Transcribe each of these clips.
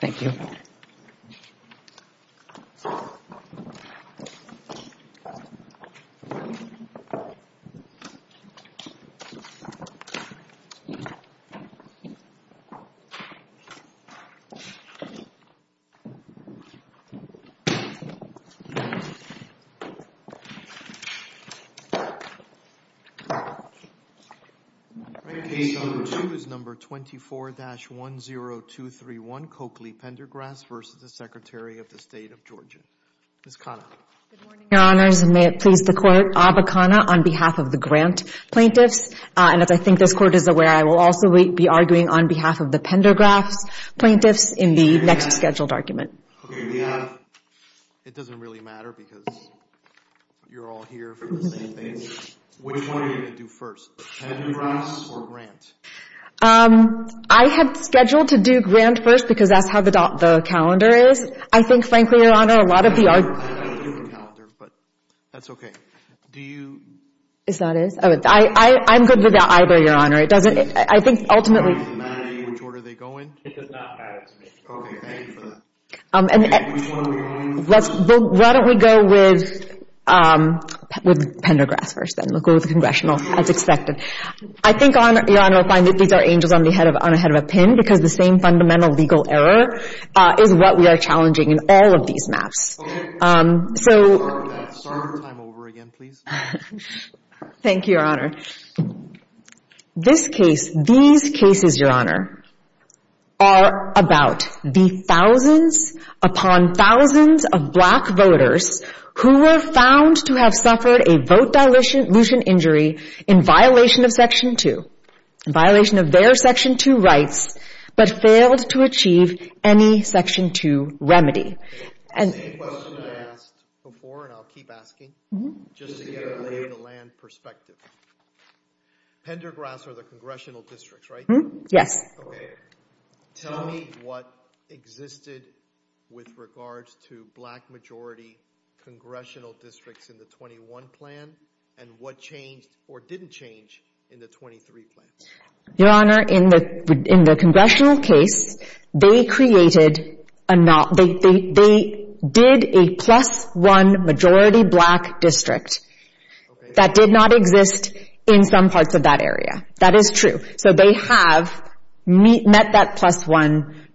Thank you. Case number two is number 24-10231, Coakley Pendergrass v. Secretary, State of Georgia. Ms. Khanna. Good morning, Your Honors. And may it please the Court, Abba Khanna on behalf of the grant plaintiffs. And as I think this Court is aware, I will also be arguing on behalf of the Pendergrass plaintiffs in the next scheduled argument. Okay, we have – it doesn't really matter because you're all here for the same thing. Which one are you going to do first, the Pendergrass or grant? I have scheduled to do grant first because that's how the calendar is. I think, frankly, Your Honor, a lot of the – I have a different calendar, but that's okay. Do you – Is that it? I'm good with either, Your Honor. It doesn't – I think ultimately – It doesn't matter to you which order they go in? It does not matter to me. Okay. Thank you for that. And which one are we going with first? Why don't we go with Pendergrass first then? We'll go with the congressional, as expected. I think, Your Honor, I find that these are angels on ahead of a pin because the same fundamental legal error is what we are challenging in all of these maps. Sorry for that. Sorry to time over again, please. Thank you, Your Honor. This case – these cases, Your Honor, are about the thousands upon thousands of black voters who were found to have suffered a vote dilution injury in violation of Section 2, a violation of their Section 2 rights, but failed to achieve any Section 2 remedy. The same question I asked before, and I'll keep asking, just to get a lay-of-the-land perspective. Pendergrass are the congressional districts, right? Yes. Okay. Tell me what existed with regards to black-majority congressional districts in the 21 plan and what changed or didn't change in the 23 plan. Your Honor, in the congressional case, they did a plus-one majority black district that did not exist in some parts of that area. That is true. So they have met that plus-one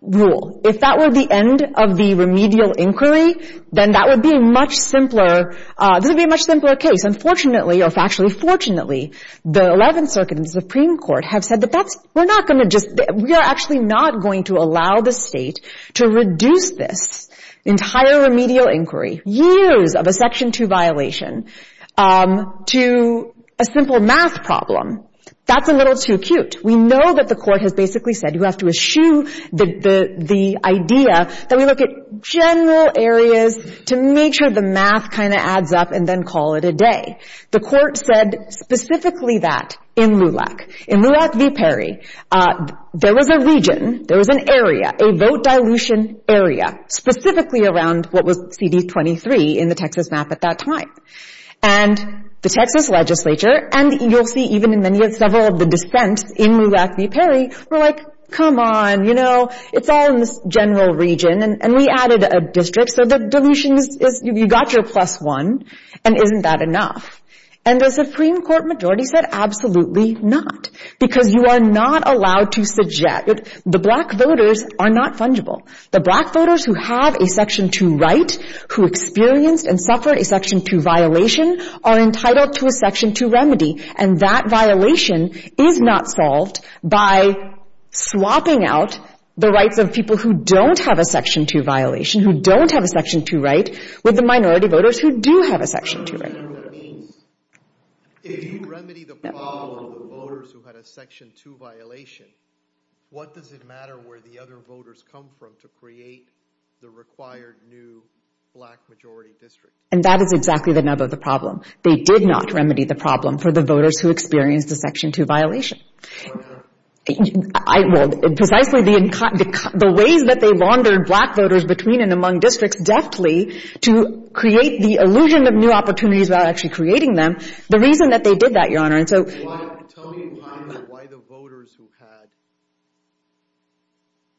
rule. If that were the end of the remedial inquiry, then that would be a much simpler – this would be a much simpler case. And fortunately, or factually fortunately, the 11th Circuit and the Supreme Court have said that that's – we're not going to just – we are actually not going to allow the state to reduce this entire remedial inquiry, years of a Section 2 violation, to a simple math problem. That's a little too cute. We know that the court has basically said you have to eschew the idea that we look at general areas to make sure the math kind of adds up and then call it a day. The court said specifically that in LULAC. In LULAC v. Perry, there was a region, there was an area, a vote dilution area, specifically around what was CD23 in the Texas map at that time. And the Texas legislature, and you'll see even in many of several of the dissents in LULAC v. Perry, were like, come on, you know, it's all in this general region. And we added a district, so the dilution is – you got your plus one, and isn't that enough? And the Supreme Court majority said absolutely not, because you are not allowed to suggest – the black voters are not fungible. The black voters who have a Section 2 right, who experienced and suffered a Section 2 violation, are entitled to a Section 2 remedy. And that violation is not solved by swapping out the rights of people who don't have a Section 2 violation, who don't have a Section 2 right, with the minority voters who do have a Section 2 right. And that is exactly the nub of the problem. They did not remedy the problem for the voters who experienced a Section 2 violation. Why not? Well, precisely the ways that they laundered black voters between and among districts deftly to create the illusion of new opportunities without actually creating them, the reason that they did that, Your Honor, and so – Tell me why the voters who had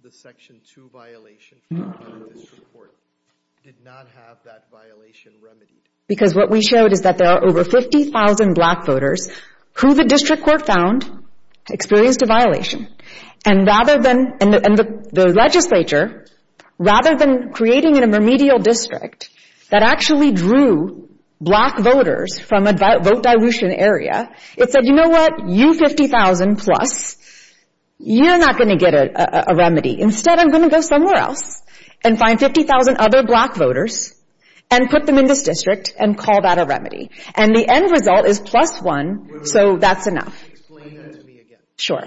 the Section 2 violation in this report did not have that violation remedied. Because what we showed is that there are over 50,000 black voters who the district court found experienced a violation. And rather than – and the legislature, rather than creating a remedial district that actually drew black voters from a vote dilution area, it said, you know what, you 50,000 plus, you're not going to get a remedy. Instead, I'm going to go somewhere else and find 50,000 other black voters and put them in this district and call that a remedy. And the end result is plus one, so that's enough. Explain that to me again. Sure.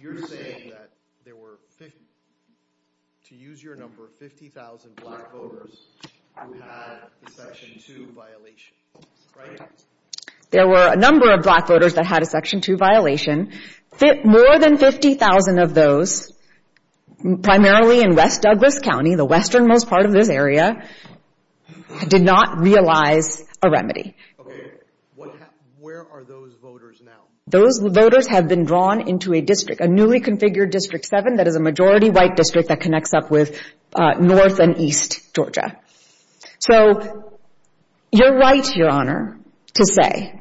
You're saying that there were 50 – to use your number, 50,000 black voters who had a Section 2 violation, right? There were a number of black voters that had a Section 2 violation. More than 50,000 of those, primarily in West Douglas County, the westernmost part of this area, did not realize a remedy. Okay. Where are those voters now? Those voters have been drawn into a district, a newly configured District 7 that is a majority white district that connects up with north and east Georgia. So you're right, Your Honor, to say.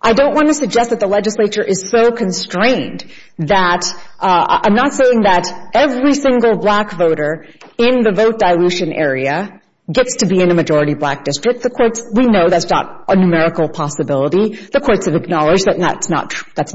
I don't want to suggest that the legislature is so constrained that – I'm not saying that every single black voter in the vote dilution area gets to be in a majority black district. The courts – we know that's not a numerical possibility. The courts have acknowledged that that's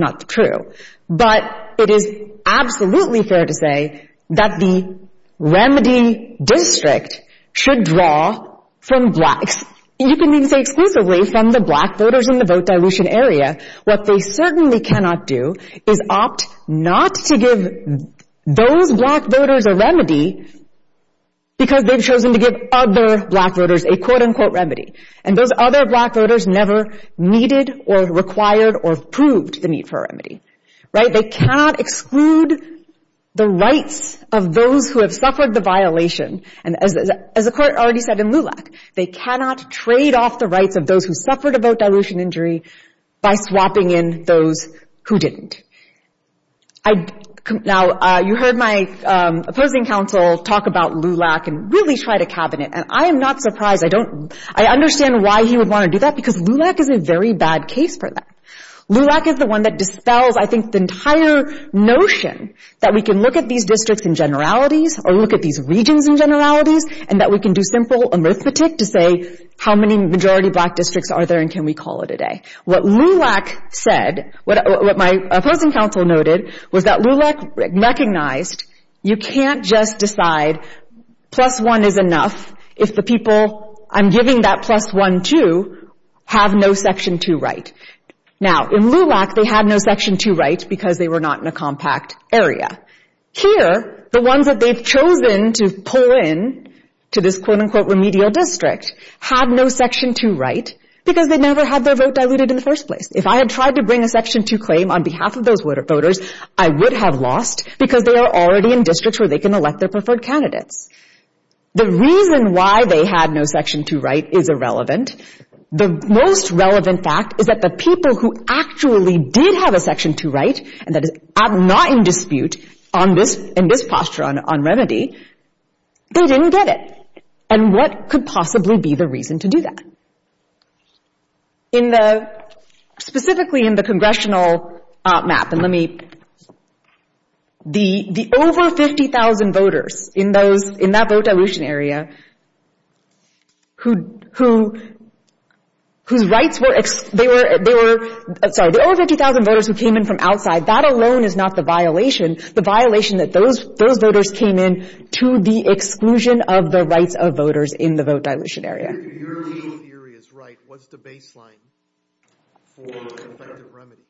not true. But it is absolutely fair to say that the remedy district should draw from blacks. You can even say exclusively from the black voters in the vote dilution area. What they certainly cannot do is opt not to give those black voters a remedy because they've chosen to give other black voters a quote-unquote remedy. And those other black voters never needed or required or proved the need for a remedy. Right? They cannot exclude the rights of those who have suffered the violation. And as the court already said in LULAC, they cannot trade off the rights of those who suffered a vote dilution injury by swapping in those who didn't. Now, you heard my opposing counsel talk about LULAC and really tried a cabinet. And I am not surprised. I don't – I understand why he would want to do that because LULAC is a very bad case for that. LULAC is the one that dispels, I think, the entire notion that we can look at these districts in generalities or look at these regions in generalities and that we can do simple anaesthetic to say how many majority black districts are there and can we call it a day. What LULAC said, what my opposing counsel noted, was that LULAC recognized you can't just decide plus one is enough if the people I'm giving that plus one to have no Section 2 right. Now, in LULAC, they had no Section 2 right because they were not in a compact area. Here, the ones that they've chosen to pull in to this quote-unquote remedial district had no Section 2 right because they never had their vote diluted in the first place. If I had tried to bring a Section 2 claim on behalf of those voters, I would have lost because they are already in districts where they can elect their preferred candidates. The reason why they had no Section 2 right is irrelevant. The most relevant fact is that the people who actually did have a Section 2 right and that is not in dispute in this posture on remedy, they didn't get it. And what could possibly be the reason to do that? Specifically in the congressional map, the over 50,000 voters in that vote dilution area whose rights were—sorry, the over 50,000 voters who came in from outside, that alone is not the violation. The violation that those voters came in to the exclusion of the rights of voters in the vote dilution area. Your theory is right. What's the baseline for effective remedies?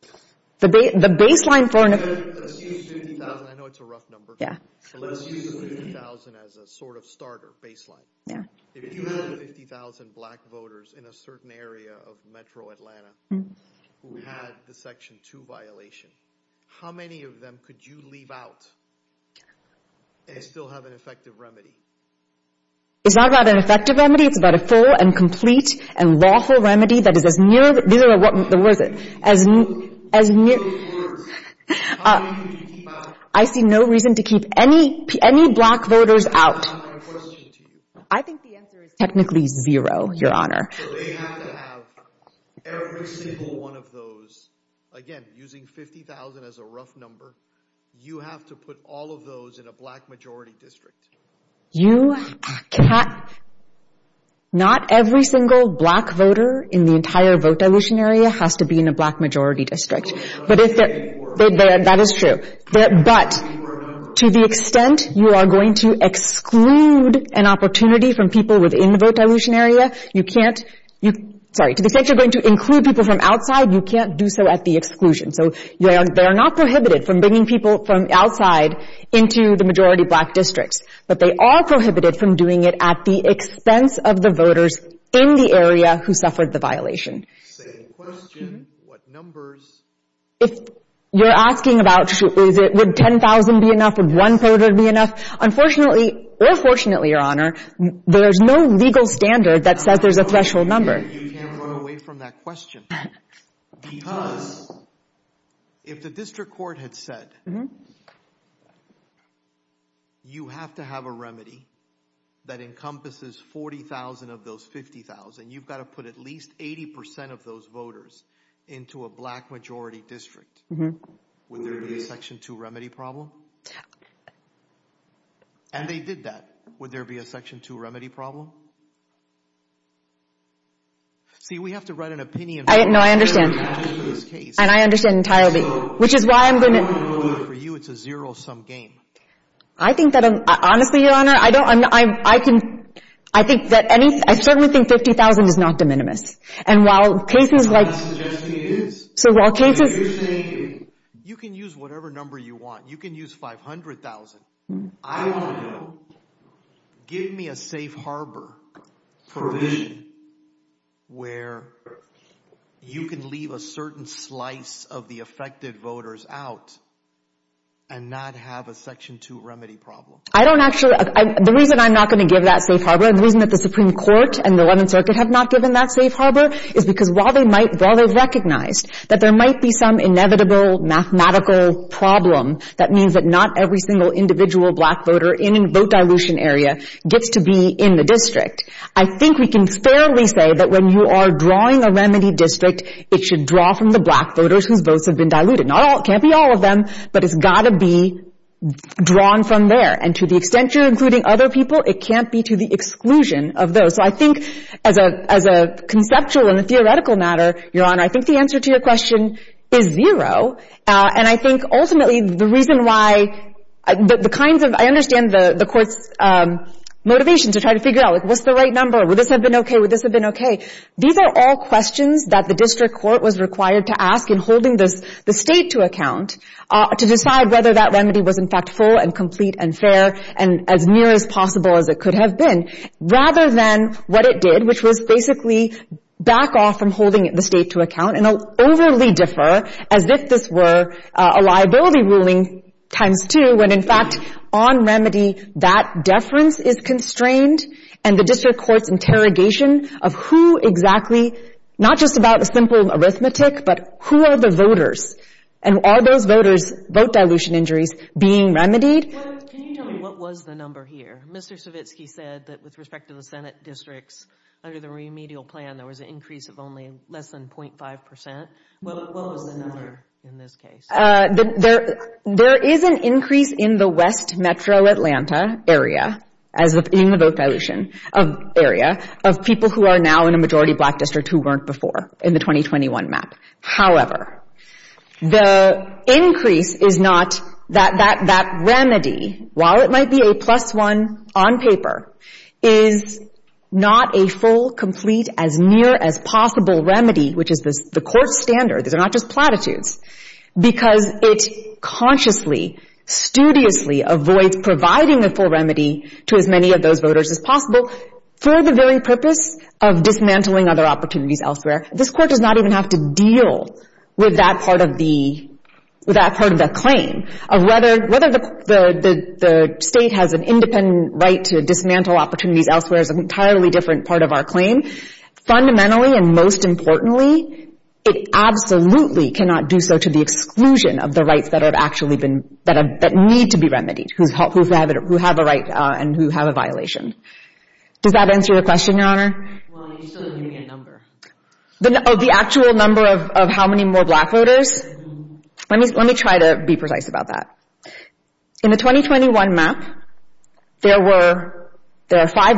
The baseline for— Let's use 50,000. I know it's a rough number. Yeah. So let's use 50,000 as a sort of starter baseline. Yeah. If you had 50,000 black voters in a certain area of metro Atlanta who had the Section 2 violation, how many of them could you leave out and still have an effective remedy? It's not about an effective remedy. It's about a full and complete and lawful remedy that is as near— These are the words. As near— How many could you keep out? I see no reason to keep any black voters out. I have a question to you. I think the answer is technically zero, Your Honor. So they have to have every single one of those. Again, using 50,000 as a rough number, you have to put all of those in a black majority district. You can't— Not every single black voter in the entire vote dilution area has to be in a black majority district. That is true. But to the extent you are going to exclude an opportunity from people within the vote dilution area, you can't— Sorry. To the extent you're going to include people from outside, you can't do so at the exclusion. So they are not prohibited from bringing people from outside into the majority black districts, but they are prohibited from doing it at the expense of the voters in the area who suffered the violation. Same question. What numbers— If you're asking about, would 10,000 be enough? Would one voter be enough? Unfortunately, or fortunately, Your Honor, there's no legal standard that says there's a threshold number. You can't run away from that question. Because if the district court had said, you have to have a remedy that encompasses 40,000 of those 50,000, then you've got to put at least 80% of those voters into a black majority district. Would there be a Section 2 remedy problem? And they did that. Would there be a Section 2 remedy problem? See, we have to write an opinion— No, I understand. And I understand entirely. Which is why I'm going to— For you, it's a zero-sum game. I think that, honestly, Your Honor, I don't— I can—I think that any— I certainly think 50,000 is not de minimis. And while cases like— I'm not suggesting it is. So while cases— You're saying you can use whatever number you want. You can use 500,000. I want to know, give me a safe harbor provision where you can leave a certain slice of the affected voters out and not have a Section 2 remedy problem. I don't actually— The reason I'm not going to give that safe harbor and the reason that the Supreme Court and the 11th Circuit have not given that safe harbor is because while they might— while they've recognized that there might be some inevitable mathematical problem that means that not every single individual black voter in a vote dilution area gets to be in the district, I think we can fairly say that when you are drawing a remedy district, it should draw from the black voters whose votes have been diluted. Not all. It can't be all of them. But it's got to be drawn from there. And to the extent you're including other people, it can't be to the exclusion of those. So I think as a conceptual and a theoretical matter, Your Honor, I think the answer to your question is zero. And I think ultimately the reason why the kinds of— I understand the Court's motivation to try to figure out, like, what's the right number? Would this have been okay? Would this have been okay? These are all questions that the district court was required to ask in holding the State to account to decide whether that remedy was, in fact, full and complete and fair and as near as possible as it could have been, rather than what it did, which was basically back off from holding the State to account and overly defer, as if this were a liability ruling times two, when in fact on remedy that deference is constrained and the district court's interrogation of who exactly— not just about the simple arithmetic, but who are the voters? And are those voters' vote dilution injuries being remedied? Can you tell me what was the number here? Mr. Savitsky said that with respect to the Senate districts, under the remedial plan, there was an increase of only less than 0.5 percent. What was the number in this case? There is an increase in the West Metro Atlanta area, as in the vote dilution area, of people who are now in a majority black district who weren't before in the 2021 map. However, the increase is not— that remedy, while it might be a plus one on paper, is not a full, complete, as near as possible remedy, which is the court's standard. These are not just platitudes. Because it consciously, studiously, avoids providing a full remedy to as many of those voters as possible for the very purpose of dismantling other opportunities elsewhere. This court does not even have to deal with that part of the claim. Whether the state has an independent right to dismantle opportunities elsewhere is an entirely different part of our claim. Fundamentally and most importantly, it absolutely cannot do so to the exclusion of the rights that need to be remedied, who have a right and who have a violation. Does that answer your question, Your Honor? Well, you still didn't give me a number. Oh, the actual number of how many more black voters? Let me try to be precise about that. In the 2021 map, there were five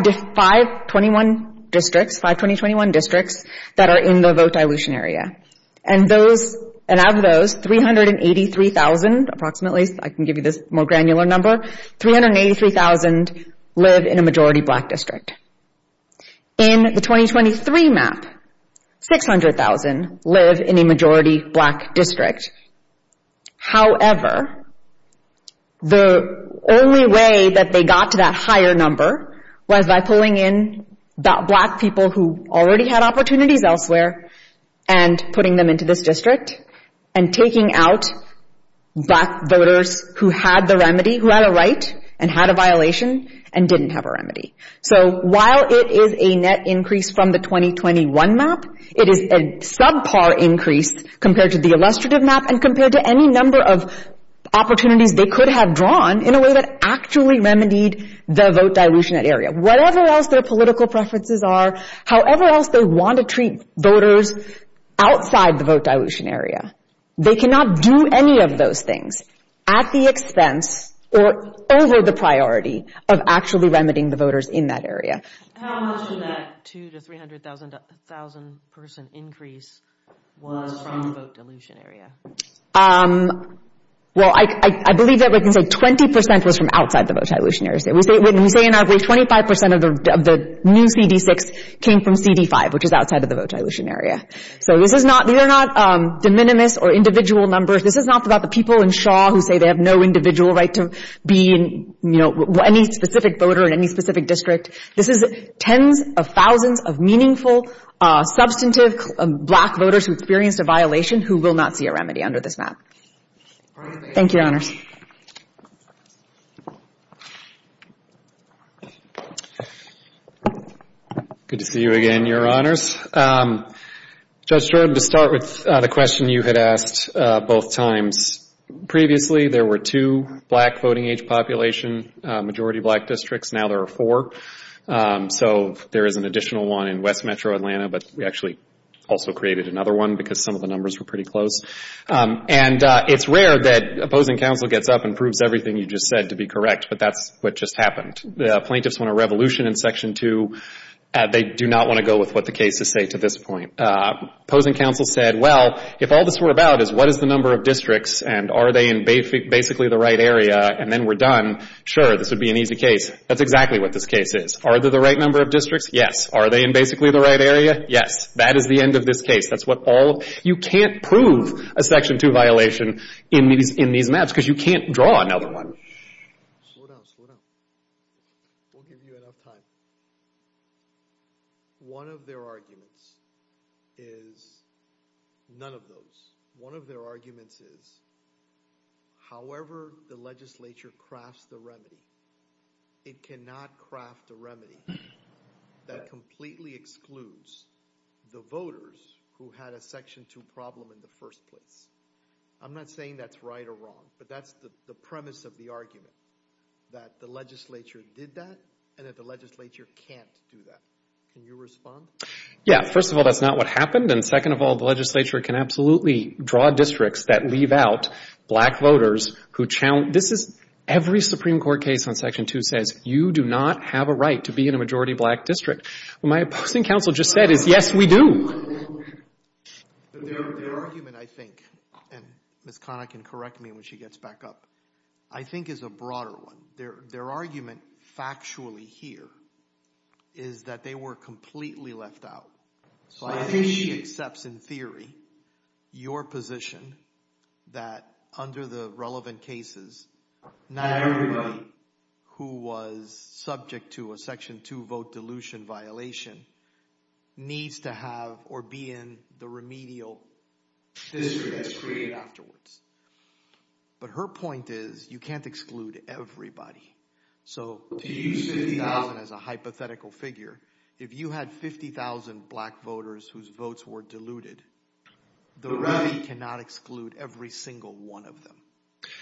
21 districts, five 2021 districts, that are in the vote dilution area. And out of those, 383,000 approximately, I can give you this more granular number, 383,000 live in a majority black district. In the 2023 map, 600,000 live in a majority black district. However, the only way that they got to that higher number was by pulling in black people who already had opportunities elsewhere and putting them into this district and taking out black voters who had the remedy, who had a right and had a violation and didn't have a remedy. So while it is a net increase from the 2021 map, it is a subpar increase compared to the illustrative map and compared to any number of opportunities they could have drawn in a way that actually remedied the vote dilution area. Whatever else their political preferences are, however else they want to treat voters outside the vote dilution area, they cannot do any of those things at the expense or over the priority of actually remedying the voters in that area. How much of that 2,000 to 300,000 person increase was from the vote dilution area? Well, I believe that we can say 20% was from outside the vote dilution area. We say 25% of the new CD6 came from CD5, which is outside of the vote dilution area. These are not de minimis or individual numbers. This is not about the people in Shaw who say they have no individual right to be any specific voter in any specific district. This is tens of thousands of meaningful, substantive black voters who experienced a violation who will not see a remedy under this map. Thank you, Your Honors. Good to see you again, Your Honors. Judge Stroud, to start with the question you had asked both times, previously there were two black voting age population, majority black districts, now there are four. So there is an additional one in West Metro Atlanta, but we actually also created another one because some of the numbers were pretty close. And it's rare that opposing counsel gets up and proves everything you just said to be correct, but that's what just happened. The plaintiffs want a revolution in Section 2. They do not want to go with what the cases say to this point. Opposing counsel said, well, if all this were about is what is the number of districts, and are they in basically the right area, and then we're done, sure, this would be an easy case. That's exactly what this case is. Are they the right number of districts? Yes. Are they in basically the right area? Yes. That is the end of this case. You can't prove a Section 2 violation in these maps because you can't draw another one. Slow down, slow down. We'll give you enough time. One of their arguments is none of those. One of their arguments is however the legislature crafts the remedy, it cannot craft a remedy that completely excludes the voters who had a Section 2 problem in the first place. I'm not saying that's right or wrong, but that's the premise of the argument, that the legislature did that and that the legislature can't do that. Can you respond? Yeah, first of all, that's not what happened, and second of all, the legislature can absolutely draw districts that leave out black voters who challenge... Every Supreme Court case on Section 2 says you do not have a right to be in a majority black district. What my opposing counsel just said is yes, we do. Their argument, I think, and Ms. Connick can correct me when she gets back up, I think is a broader one. Their argument factually here is that they were completely left out. So I think she accepts in theory your position that under the relevant cases, not everybody who was subject to a Section 2 vote dilution violation needs to have or be in the remedial district that's created afterwards. But her point is you can't exclude everybody. So to use 50,000 as a hypothetical figure, if you had 50,000 black voters whose votes were diluted, the remedy cannot exclude every single one of them.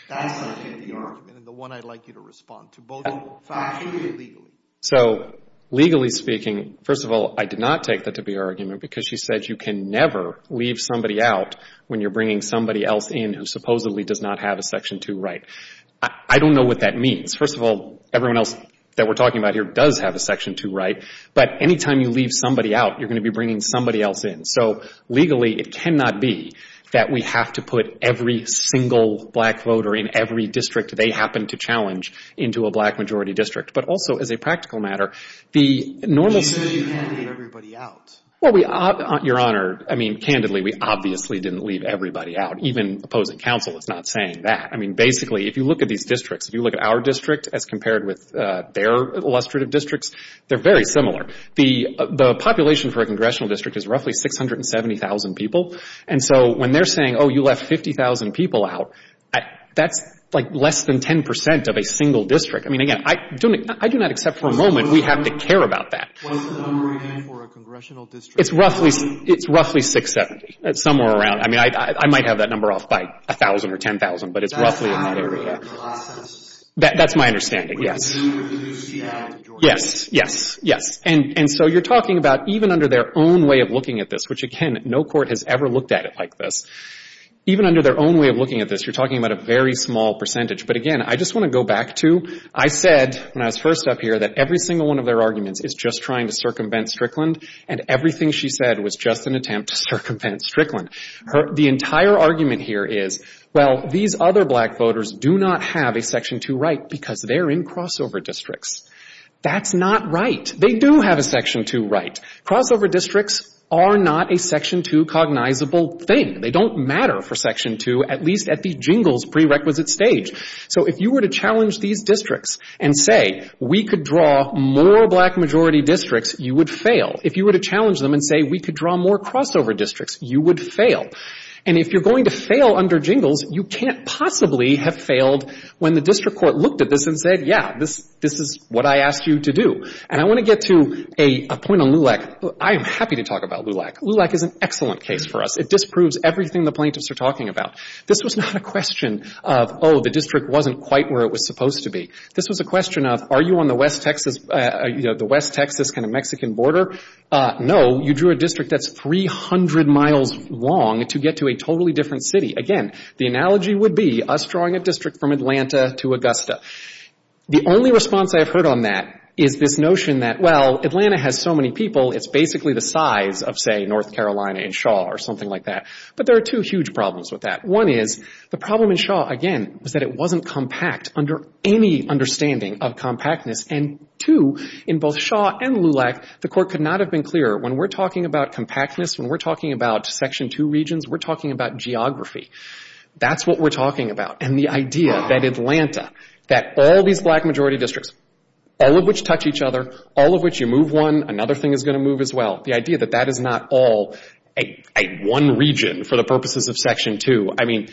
That's my take of the argument, and the one I'd like you to respond to, both factually and legally. So legally speaking, first of all, I did not take that to be her argument because she said you can never leave somebody out when you're bringing somebody else in who supposedly does not have a Section 2 right. I don't know what that means. First of all, everyone else that we're talking about here does have a Section 2 right. But any time you leave somebody out, you're going to be bringing somebody else in. So legally, it cannot be that we have to put every single black voter in every district they happen to challenge into a black majority district. But also, as a practical matter, the normal... She said you can't leave everybody out. Well, Your Honor, I mean, candidly, we obviously didn't leave everybody out. Even opposing counsel is not saying that. I mean, basically, if you look at these districts, if you look at our district as compared with their illustrative districts, they're very similar. The population for a congressional district is roughly 670,000 people. And so when they're saying, oh, you left 50,000 people out, that's, like, less than 10% of a single district. I mean, again, I do not accept for a moment we have to care about that. What's the number again for a congressional district? It's roughly 670, somewhere around. I mean, I might have that number off by 1,000 or 10,000, but it's roughly in that area. That's my understanding, yes. Yes, yes, yes. And so you're talking about even under their own way of looking at this, which, again, no court has ever looked at it like this. Even under their own way of looking at this, you're talking about a very small percentage. But again, I just want to go back to... I said when I was first up here that every single one of their arguments is just trying to circumvent Strickland, and everything she said was just an attempt to circumvent Strickland. The entire argument here is, well, these other black voters do not have a Section 2 right because they're in crossover districts. That's not right. They do have a Section 2 right. Crossover districts are not a Section 2 cognizable thing. They don't matter for Section 2, at least at the jingles prerequisite stage. So if you were to challenge these districts and say we could draw more black majority districts, you would fail. If you were to challenge them and say we could draw more crossover districts, you would fail. And if you're going to fail under jingles, you can't possibly have failed when the district court looked at this and said, yeah, this is what I asked you to do. And I want to get to a point on LULAC. I am happy to talk about LULAC. LULAC is an excellent case for us. It disproves everything the plaintiffs are talking about. This was not a question of, oh, the district wasn't quite where it was supposed to be. This was a question of, are you on the West Texas kind of Mexican border? No, you drew a district that's 300 miles long to get to a totally different city. Again, the analogy would be us drawing a district from Atlanta to Augusta. The only response I've heard on that is this notion that, well, Atlanta has so many people, it's basically the size of, say, North Carolina and Shaw or something like that. But there are two huge problems with that. One is the problem in Shaw, again, was that it wasn't compact under any understanding of compactness. And two, in both Shaw and LULAC, the court could not have been clearer. When we're talking about compactness, when we're talking about Section 2 regions, we're talking about geography. That's what we're talking about. And the idea that Atlanta, that all these black majority districts, all of which touch each other, all of which you move one, another thing is going to move as well, the idea that that is not all one region for the purposes of Section 2, I mean,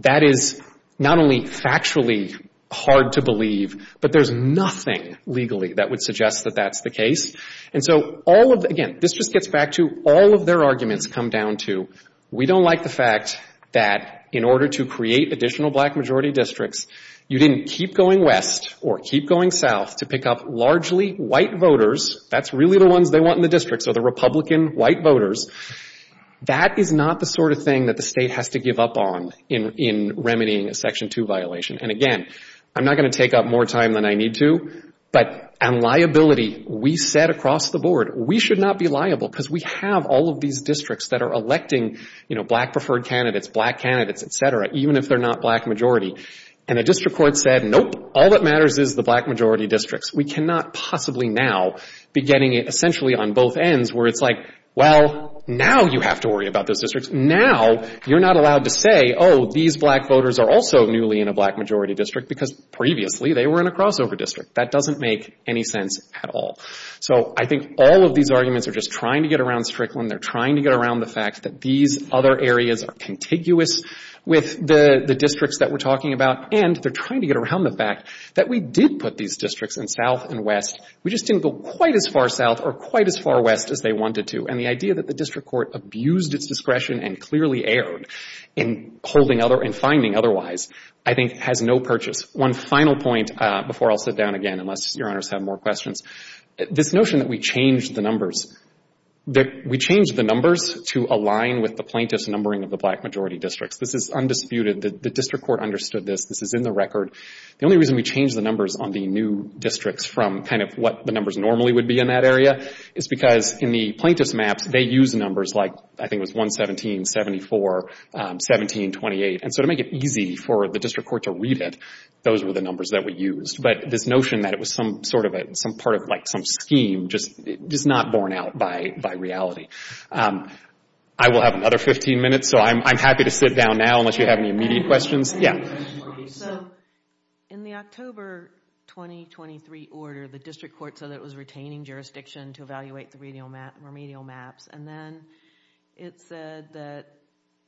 that is not only factually hard to believe, but there's nothing legally that would suggest that that's the case. And so all of the, again, this just gets back to all of their arguments come down to, we don't like the fact that in order to create additional black majority districts, you didn't keep going west or keep going south to pick up largely white voters, that's really the ones they want in the district, so the Republican white voters, that is not the sort of thing that the state has to give up on in remedying a Section 2 violation. And again, I'm not going to take up more time than I need to, but on liability, we said across the board, we should not be liable because we have all of these districts that are electing, you know, black preferred candidates, black candidates, et cetera, even if they're not black majority. And the district court said, nope, all that matters is the black majority districts. We cannot possibly now be getting it essentially on both ends where it's like, well, now you have to worry about those districts. Now you're not allowed to say, oh, these black voters are also newly in a black majority district because previously they were in a crossover district. That doesn't make any sense at all. So I think all of these arguments are just trying to get around Strickland, they're trying to get around the fact that these other areas are contiguous with the districts that we're talking about, and they're trying to get around the fact that we did put these districts in South and West, we just didn't go quite as far South or quite as far West as they wanted to. And the idea that the district court abused its discretion and clearly erred in holding other, in finding otherwise, I think has no purchase. One final point before I'll sit down again, unless Your Honors have more questions. This notion that we changed the numbers, that we changed the numbers to align with the plaintiff's numbering of the black majority districts. This is undisputed. The district court understood this. This is in the record. The only reason we changed the numbers on the new districts from kind of what the numbers normally would be in that area is because in the plaintiff's maps, they use numbers like, I think it was 117, 74, 17, 28. And so to make it easy for the district court to read it, those were the numbers that we used. But this notion that it was some sort of a, some part of like some scheme, just not borne out by reality. I will have another 15 minutes, so I'm happy to sit down now unless you have any immediate questions. Yeah. So in the October 2023 order, the district court said it was retaining jurisdiction to evaluate the remedial maps. And then it said that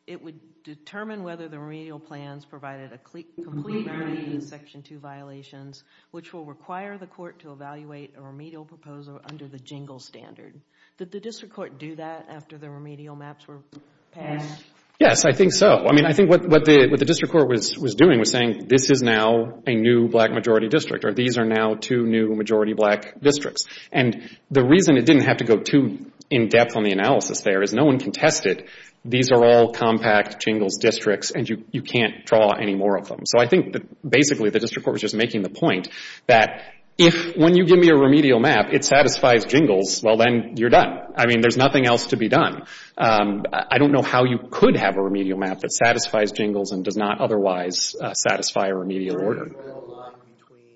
it would determine whether the remedial plans provided a complete remedy in the Section 2 violations, which will require the court to evaluate a remedial proposal under the Jingles standard. Did the district court do that after the remedial maps were passed? Yes, I think so. I mean, I think what the district court was doing was saying this is now a new black majority district or these are now two new majority black districts. And the reason it didn't have to go too in-depth on the analysis there is no one can test it. These are all compact Jingles districts and you can't draw any more of them. So I think that basically the district court was just making the point that if when you give me a remedial map, it satisfies Jingles, well, then you're done. I mean, there's nothing else to be done. I don't know how you could have a remedial map that satisfies Jingles and does not otherwise satisfy a remedial order. There is a line between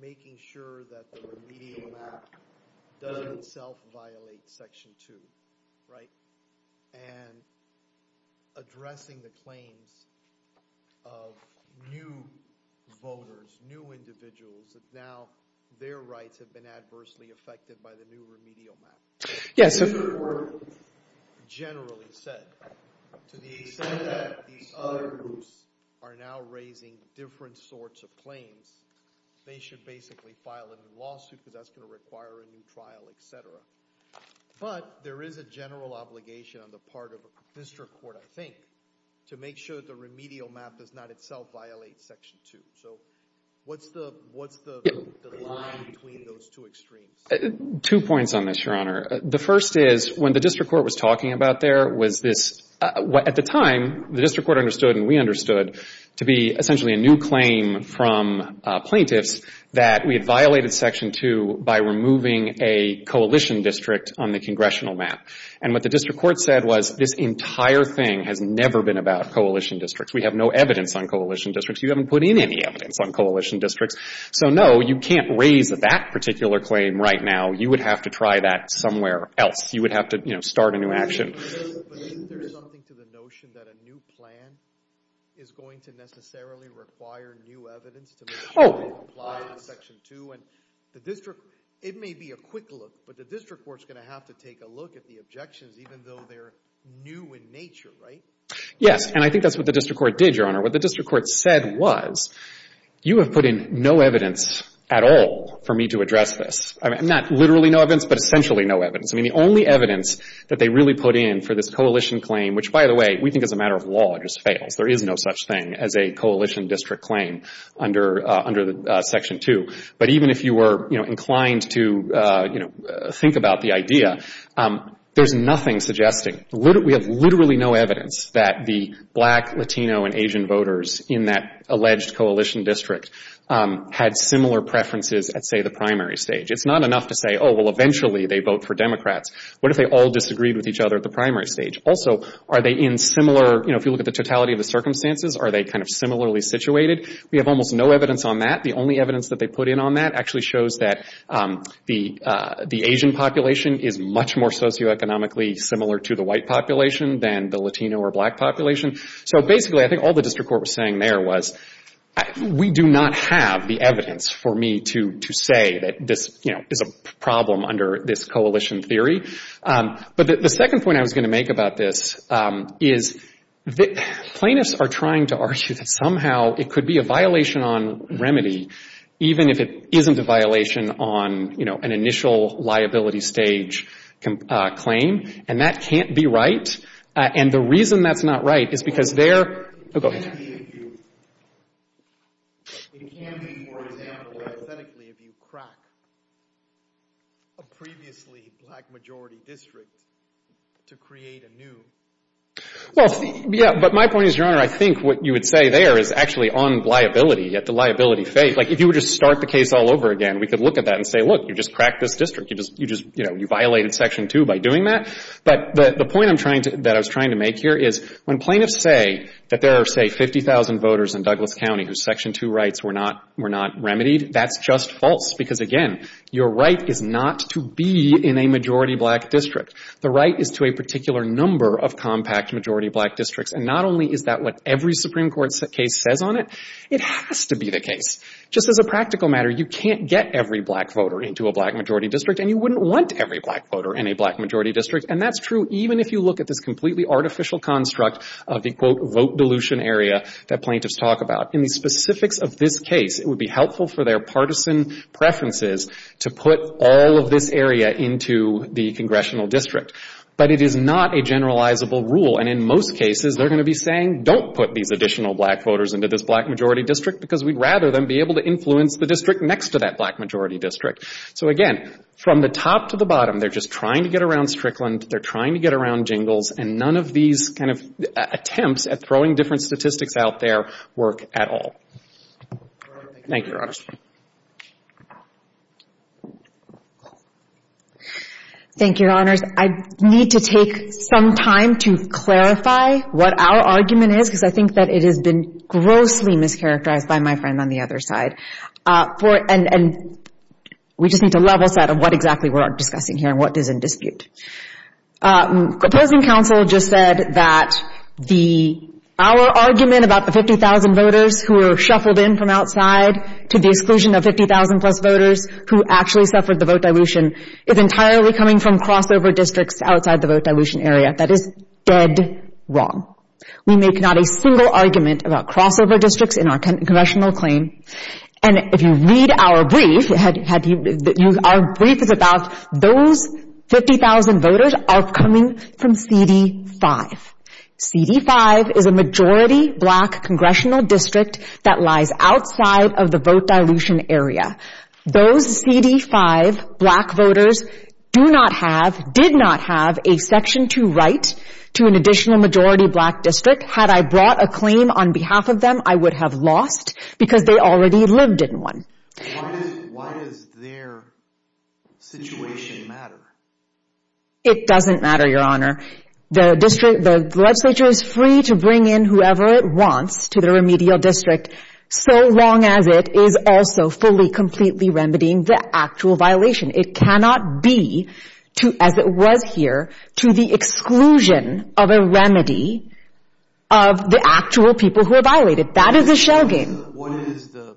making sure that the remedial map doesn't self-violate section two, right? And addressing the claims of new voters, new individuals that now their rights have been adversely affected by the new remedial map. The district court generally said to the extent that these other groups are now raising different sorts of claims, they should basically file a new lawsuit because that's going to require a new trial, et cetera. But there is a general obligation on the part of a district court, I think, to make sure the remedial map does not itself violate section two. So what's the line between those two extremes? Two points on this, Your Honor. The first is when the district court was talking about there was this, at the time, the district court understood and we understood to be essentially a new claim from plaintiffs that we had violated section two by removing a coalition district on the congressional map. And what the district court said was this entire thing has never been about coalition districts. We have no evidence on coalition districts. You haven't put in any evidence on coalition districts. So, no, you can't raise that particular claim right now. You would have to try that somewhere else. You would have to, you know, start a new action. But isn't there something to the notion that a new plan is going to necessarily require new evidence to make sure it applies to section two? And the district, it may be a quick look, but the district court's going to have to take a look at the objections even though they're new in nature, right? Yes, and I think that's what the district court did, Your Honor. What the district court said was you have put in no evidence at all for me to address this. Not literally no evidence, but essentially no evidence. I mean, the only evidence that they really put in for this coalition claim, which, by the way, we think as a matter of law it just fails. There is no such thing as a coalition district claim under section two. But even if you were, you know, inclined to, you know, think about the idea, there's nothing suggesting, we have literally no evidence that the black, Latino, and Asian voters in that alleged coalition district had similar preferences at, say, the primary stage. It's not enough to say, oh, well, eventually they vote for Democrats. What if they all disagreed with each other at the primary stage? Also, are they in similar, you know, if you look at the totality of the circumstances, are they kind of similarly situated? We have almost no evidence on that. The only evidence that they put in on that actually shows that the Asian population is much more socioeconomically similar to the white population than the Latino or black population. So, basically, I think all the district court was saying there was we do not have the evidence for me to say that this, you know, is a problem under this coalition theory. But the second point I was going to make about this is plaintiffs are trying to argue that somehow it could be a violation on remedy, even if it isn't a violation on, you know, an initial liability stage claim, and that can't be right. And the reason that's not right is because there... Oh, go ahead. It can be, for example, authentically if you crack a previously black-majority district to create a new... Well, yeah, but my point is, Your Honor, I think what you would say there is actually on liability, at the liability phase. Like, if you would just start the case all over again, we could look at that and say, look, you just cracked this district. You just, you know, you violated Section 2 by doing that. But the point I'm trying to... that I was trying to make here is when plaintiffs say that there are, say, 50,000 voters in Douglas County whose Section 2 rights were not remedied, that's just false because, again, your right is not to be in a majority-black district. The right is to a particular number of compact majority-black districts, and not only is that what every Supreme Court case says on it, it has to be the case. Just as a practical matter, you can't get every black voter into a black-majority district, and you wouldn't want every black voter in a black-majority district, and that's true even if you look at this completely artificial construct of the, quote, vote dilution area that plaintiffs talk about. In the specifics of this case, it would be helpful for their partisan preferences to put all of this area into the congressional district. But it is not a generalizable rule, and in most cases, they're going to be saying, don't put these additional black voters into this black-majority district because we'd rather them be able to influence the district next to that black-majority district. So, again, from the top to the bottom, they're just trying to get around Strickland, they're trying to get around Jingles, and none of these kind of attempts at throwing different statistics out there work at all. Thank you, Your Honors. Thank you, Your Honors. I need to take some time to clarify what our argument is because I think that it has been grossly mischaracterized by my friend on the other side. And we just need to level set on what exactly we're discussing here and what is in dispute. Proposing counsel just said that our argument about the 50,000 voters who were shuffled in from outside to the exclusion of 50,000-plus voters who actually suffered the vote dilution is entirely coming from crossover districts outside the vote dilution area. That is dead wrong. We make not a single argument about crossover districts in our congressional claim. And if you read our brief, our brief is about those 50,000 voters are coming from CD5. CD5 is a majority black congressional district that lies outside of the vote dilution area. Those CD5 black voters do not have, did not have a Section 2 right to an additional majority black district. Had I brought a claim on behalf of them, I would have lost because they already lived in one. Why does their situation matter? It doesn't matter, Your Honor. The legislature is free to bring in whoever it wants to the remedial district so long as it is also fully, completely remedying the actual violation. It cannot be, as it was here, to the exclusion of a remedy of the actual people who are violated. That is a shell game. What is the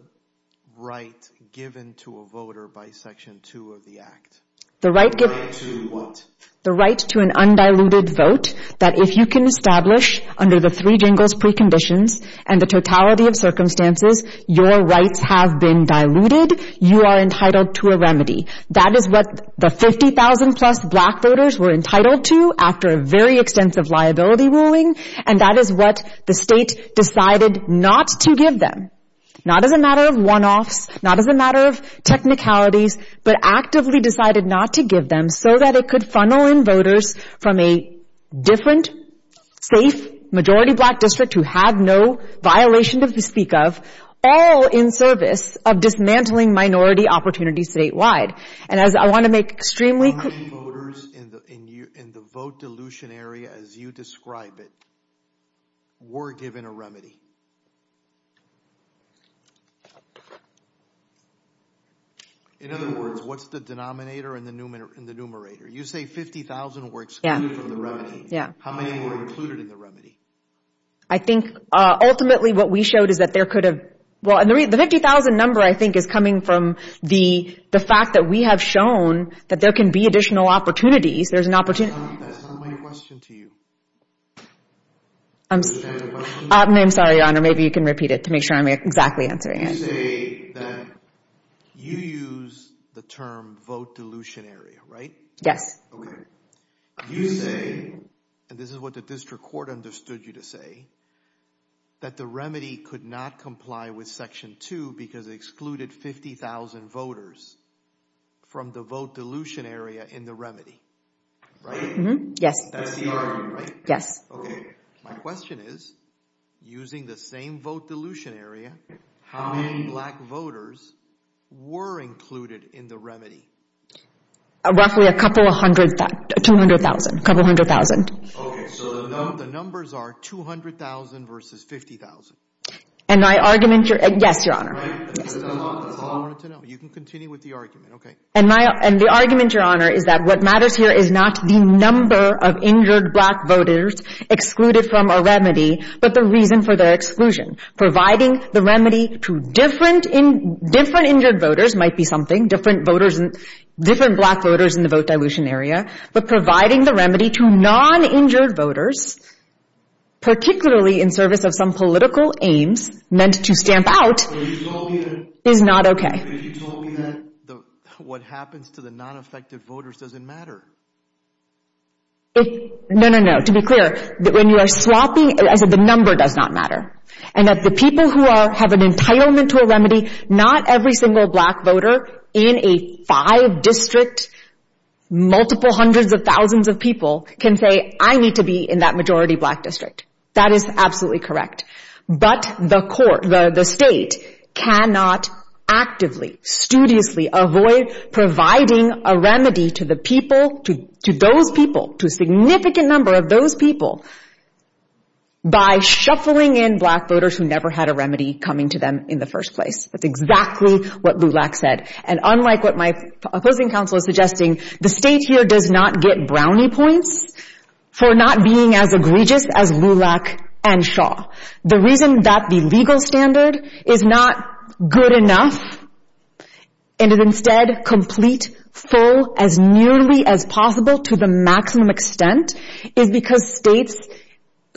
right given to a voter by Section 2 of the Act? The right to what? The right to an undiluted vote that if you can establish under the three jingles preconditions and the totality of circumstances your rights have been diluted, you are entitled to a remedy. That is what the 50,000 plus black voters were entitled to after a very extensive liability ruling. And that is what the state decided not to give them. Not as a matter of one-offs, not as a matter of technicalities, but actively decided not to give them so that it could funnel in voters from a different, safe, majority black district who had no violation to speak of, all in service of dismantling minority opportunities statewide. And as I want to make extremely clear... How many voters in the vote dilution area as you describe it, were given a remedy? In other words, what's the denominator and the numerator? You say 50,000 were excluded from the remedy. How many were included in the remedy? I think ultimately what we showed is that there could have... The 50,000 number I think is coming from the fact that we have shown that there can be additional opportunities. There's an opportunity... That's not my question to you. I'm sorry, Your Honor. Maybe you can repeat it to make sure I'm exactly answering it. You say that you use the term vote dilution area, right? Yes. Okay. You say, and this is what the district court understood you to say, that the remedy could not comply with Section 2 because it excluded 50,000 voters from the vote dilution area in the remedy. Right? Yes. That's the argument, right? Yes. Okay. My question is, using the same vote dilution area, how many black voters were included in the remedy? Roughly a couple hundred... 200,000. A couple hundred thousand. Okay. So the numbers are 200,000 versus 50,000. And my argument... Yes, Your Honor. That's all I wanted to know. You can continue with the argument. And the argument, Your Honor, is that what matters here is not the number of injured black voters excluded from a remedy, but the reason for their exclusion. Providing the remedy to different injured voters might be something, different black voters in the vote dilution area, but providing the remedy to non-injured voters, particularly in service of some political aims meant to stamp out, is not okay. But you told me that what happens to the non-affected voters doesn't matter. No, no, no. To be clear, when you are swapping, the number does not matter. And that the people who have an entitlement to a remedy, not every single black voter in a five-district, multiple hundreds of thousands of people can say, I need to be in that majority black district. That is absolutely correct. But the court, the state, cannot actively, avoid providing a remedy to the people, to those people, to a significant number of those people, by shuffling in black voters who never had a remedy coming to them in the first place. That's exactly what LULAC said. And unlike what my opposing counsel is suggesting, the state here does not get brownie points for not being as egregious as LULAC and Shaw. The reason that the legal standard is not good enough and is instead complete, as nearly as possible to the maximum extent, is because states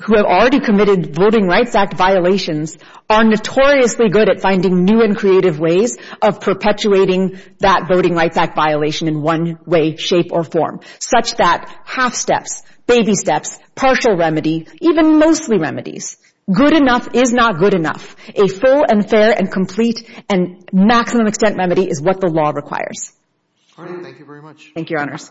who have already committed Voting Rights Act violations are notoriously good at finding new and creative ways of perpetuating that Voting Rights Act violation in one way, shape, or form. Such that half steps, baby steps, partial remedy, even mostly remedies, good enough is not good enough. A full and fair and complete and maximum extent remedy is what the law requires. Thank you very much. Thank you, Your Honors.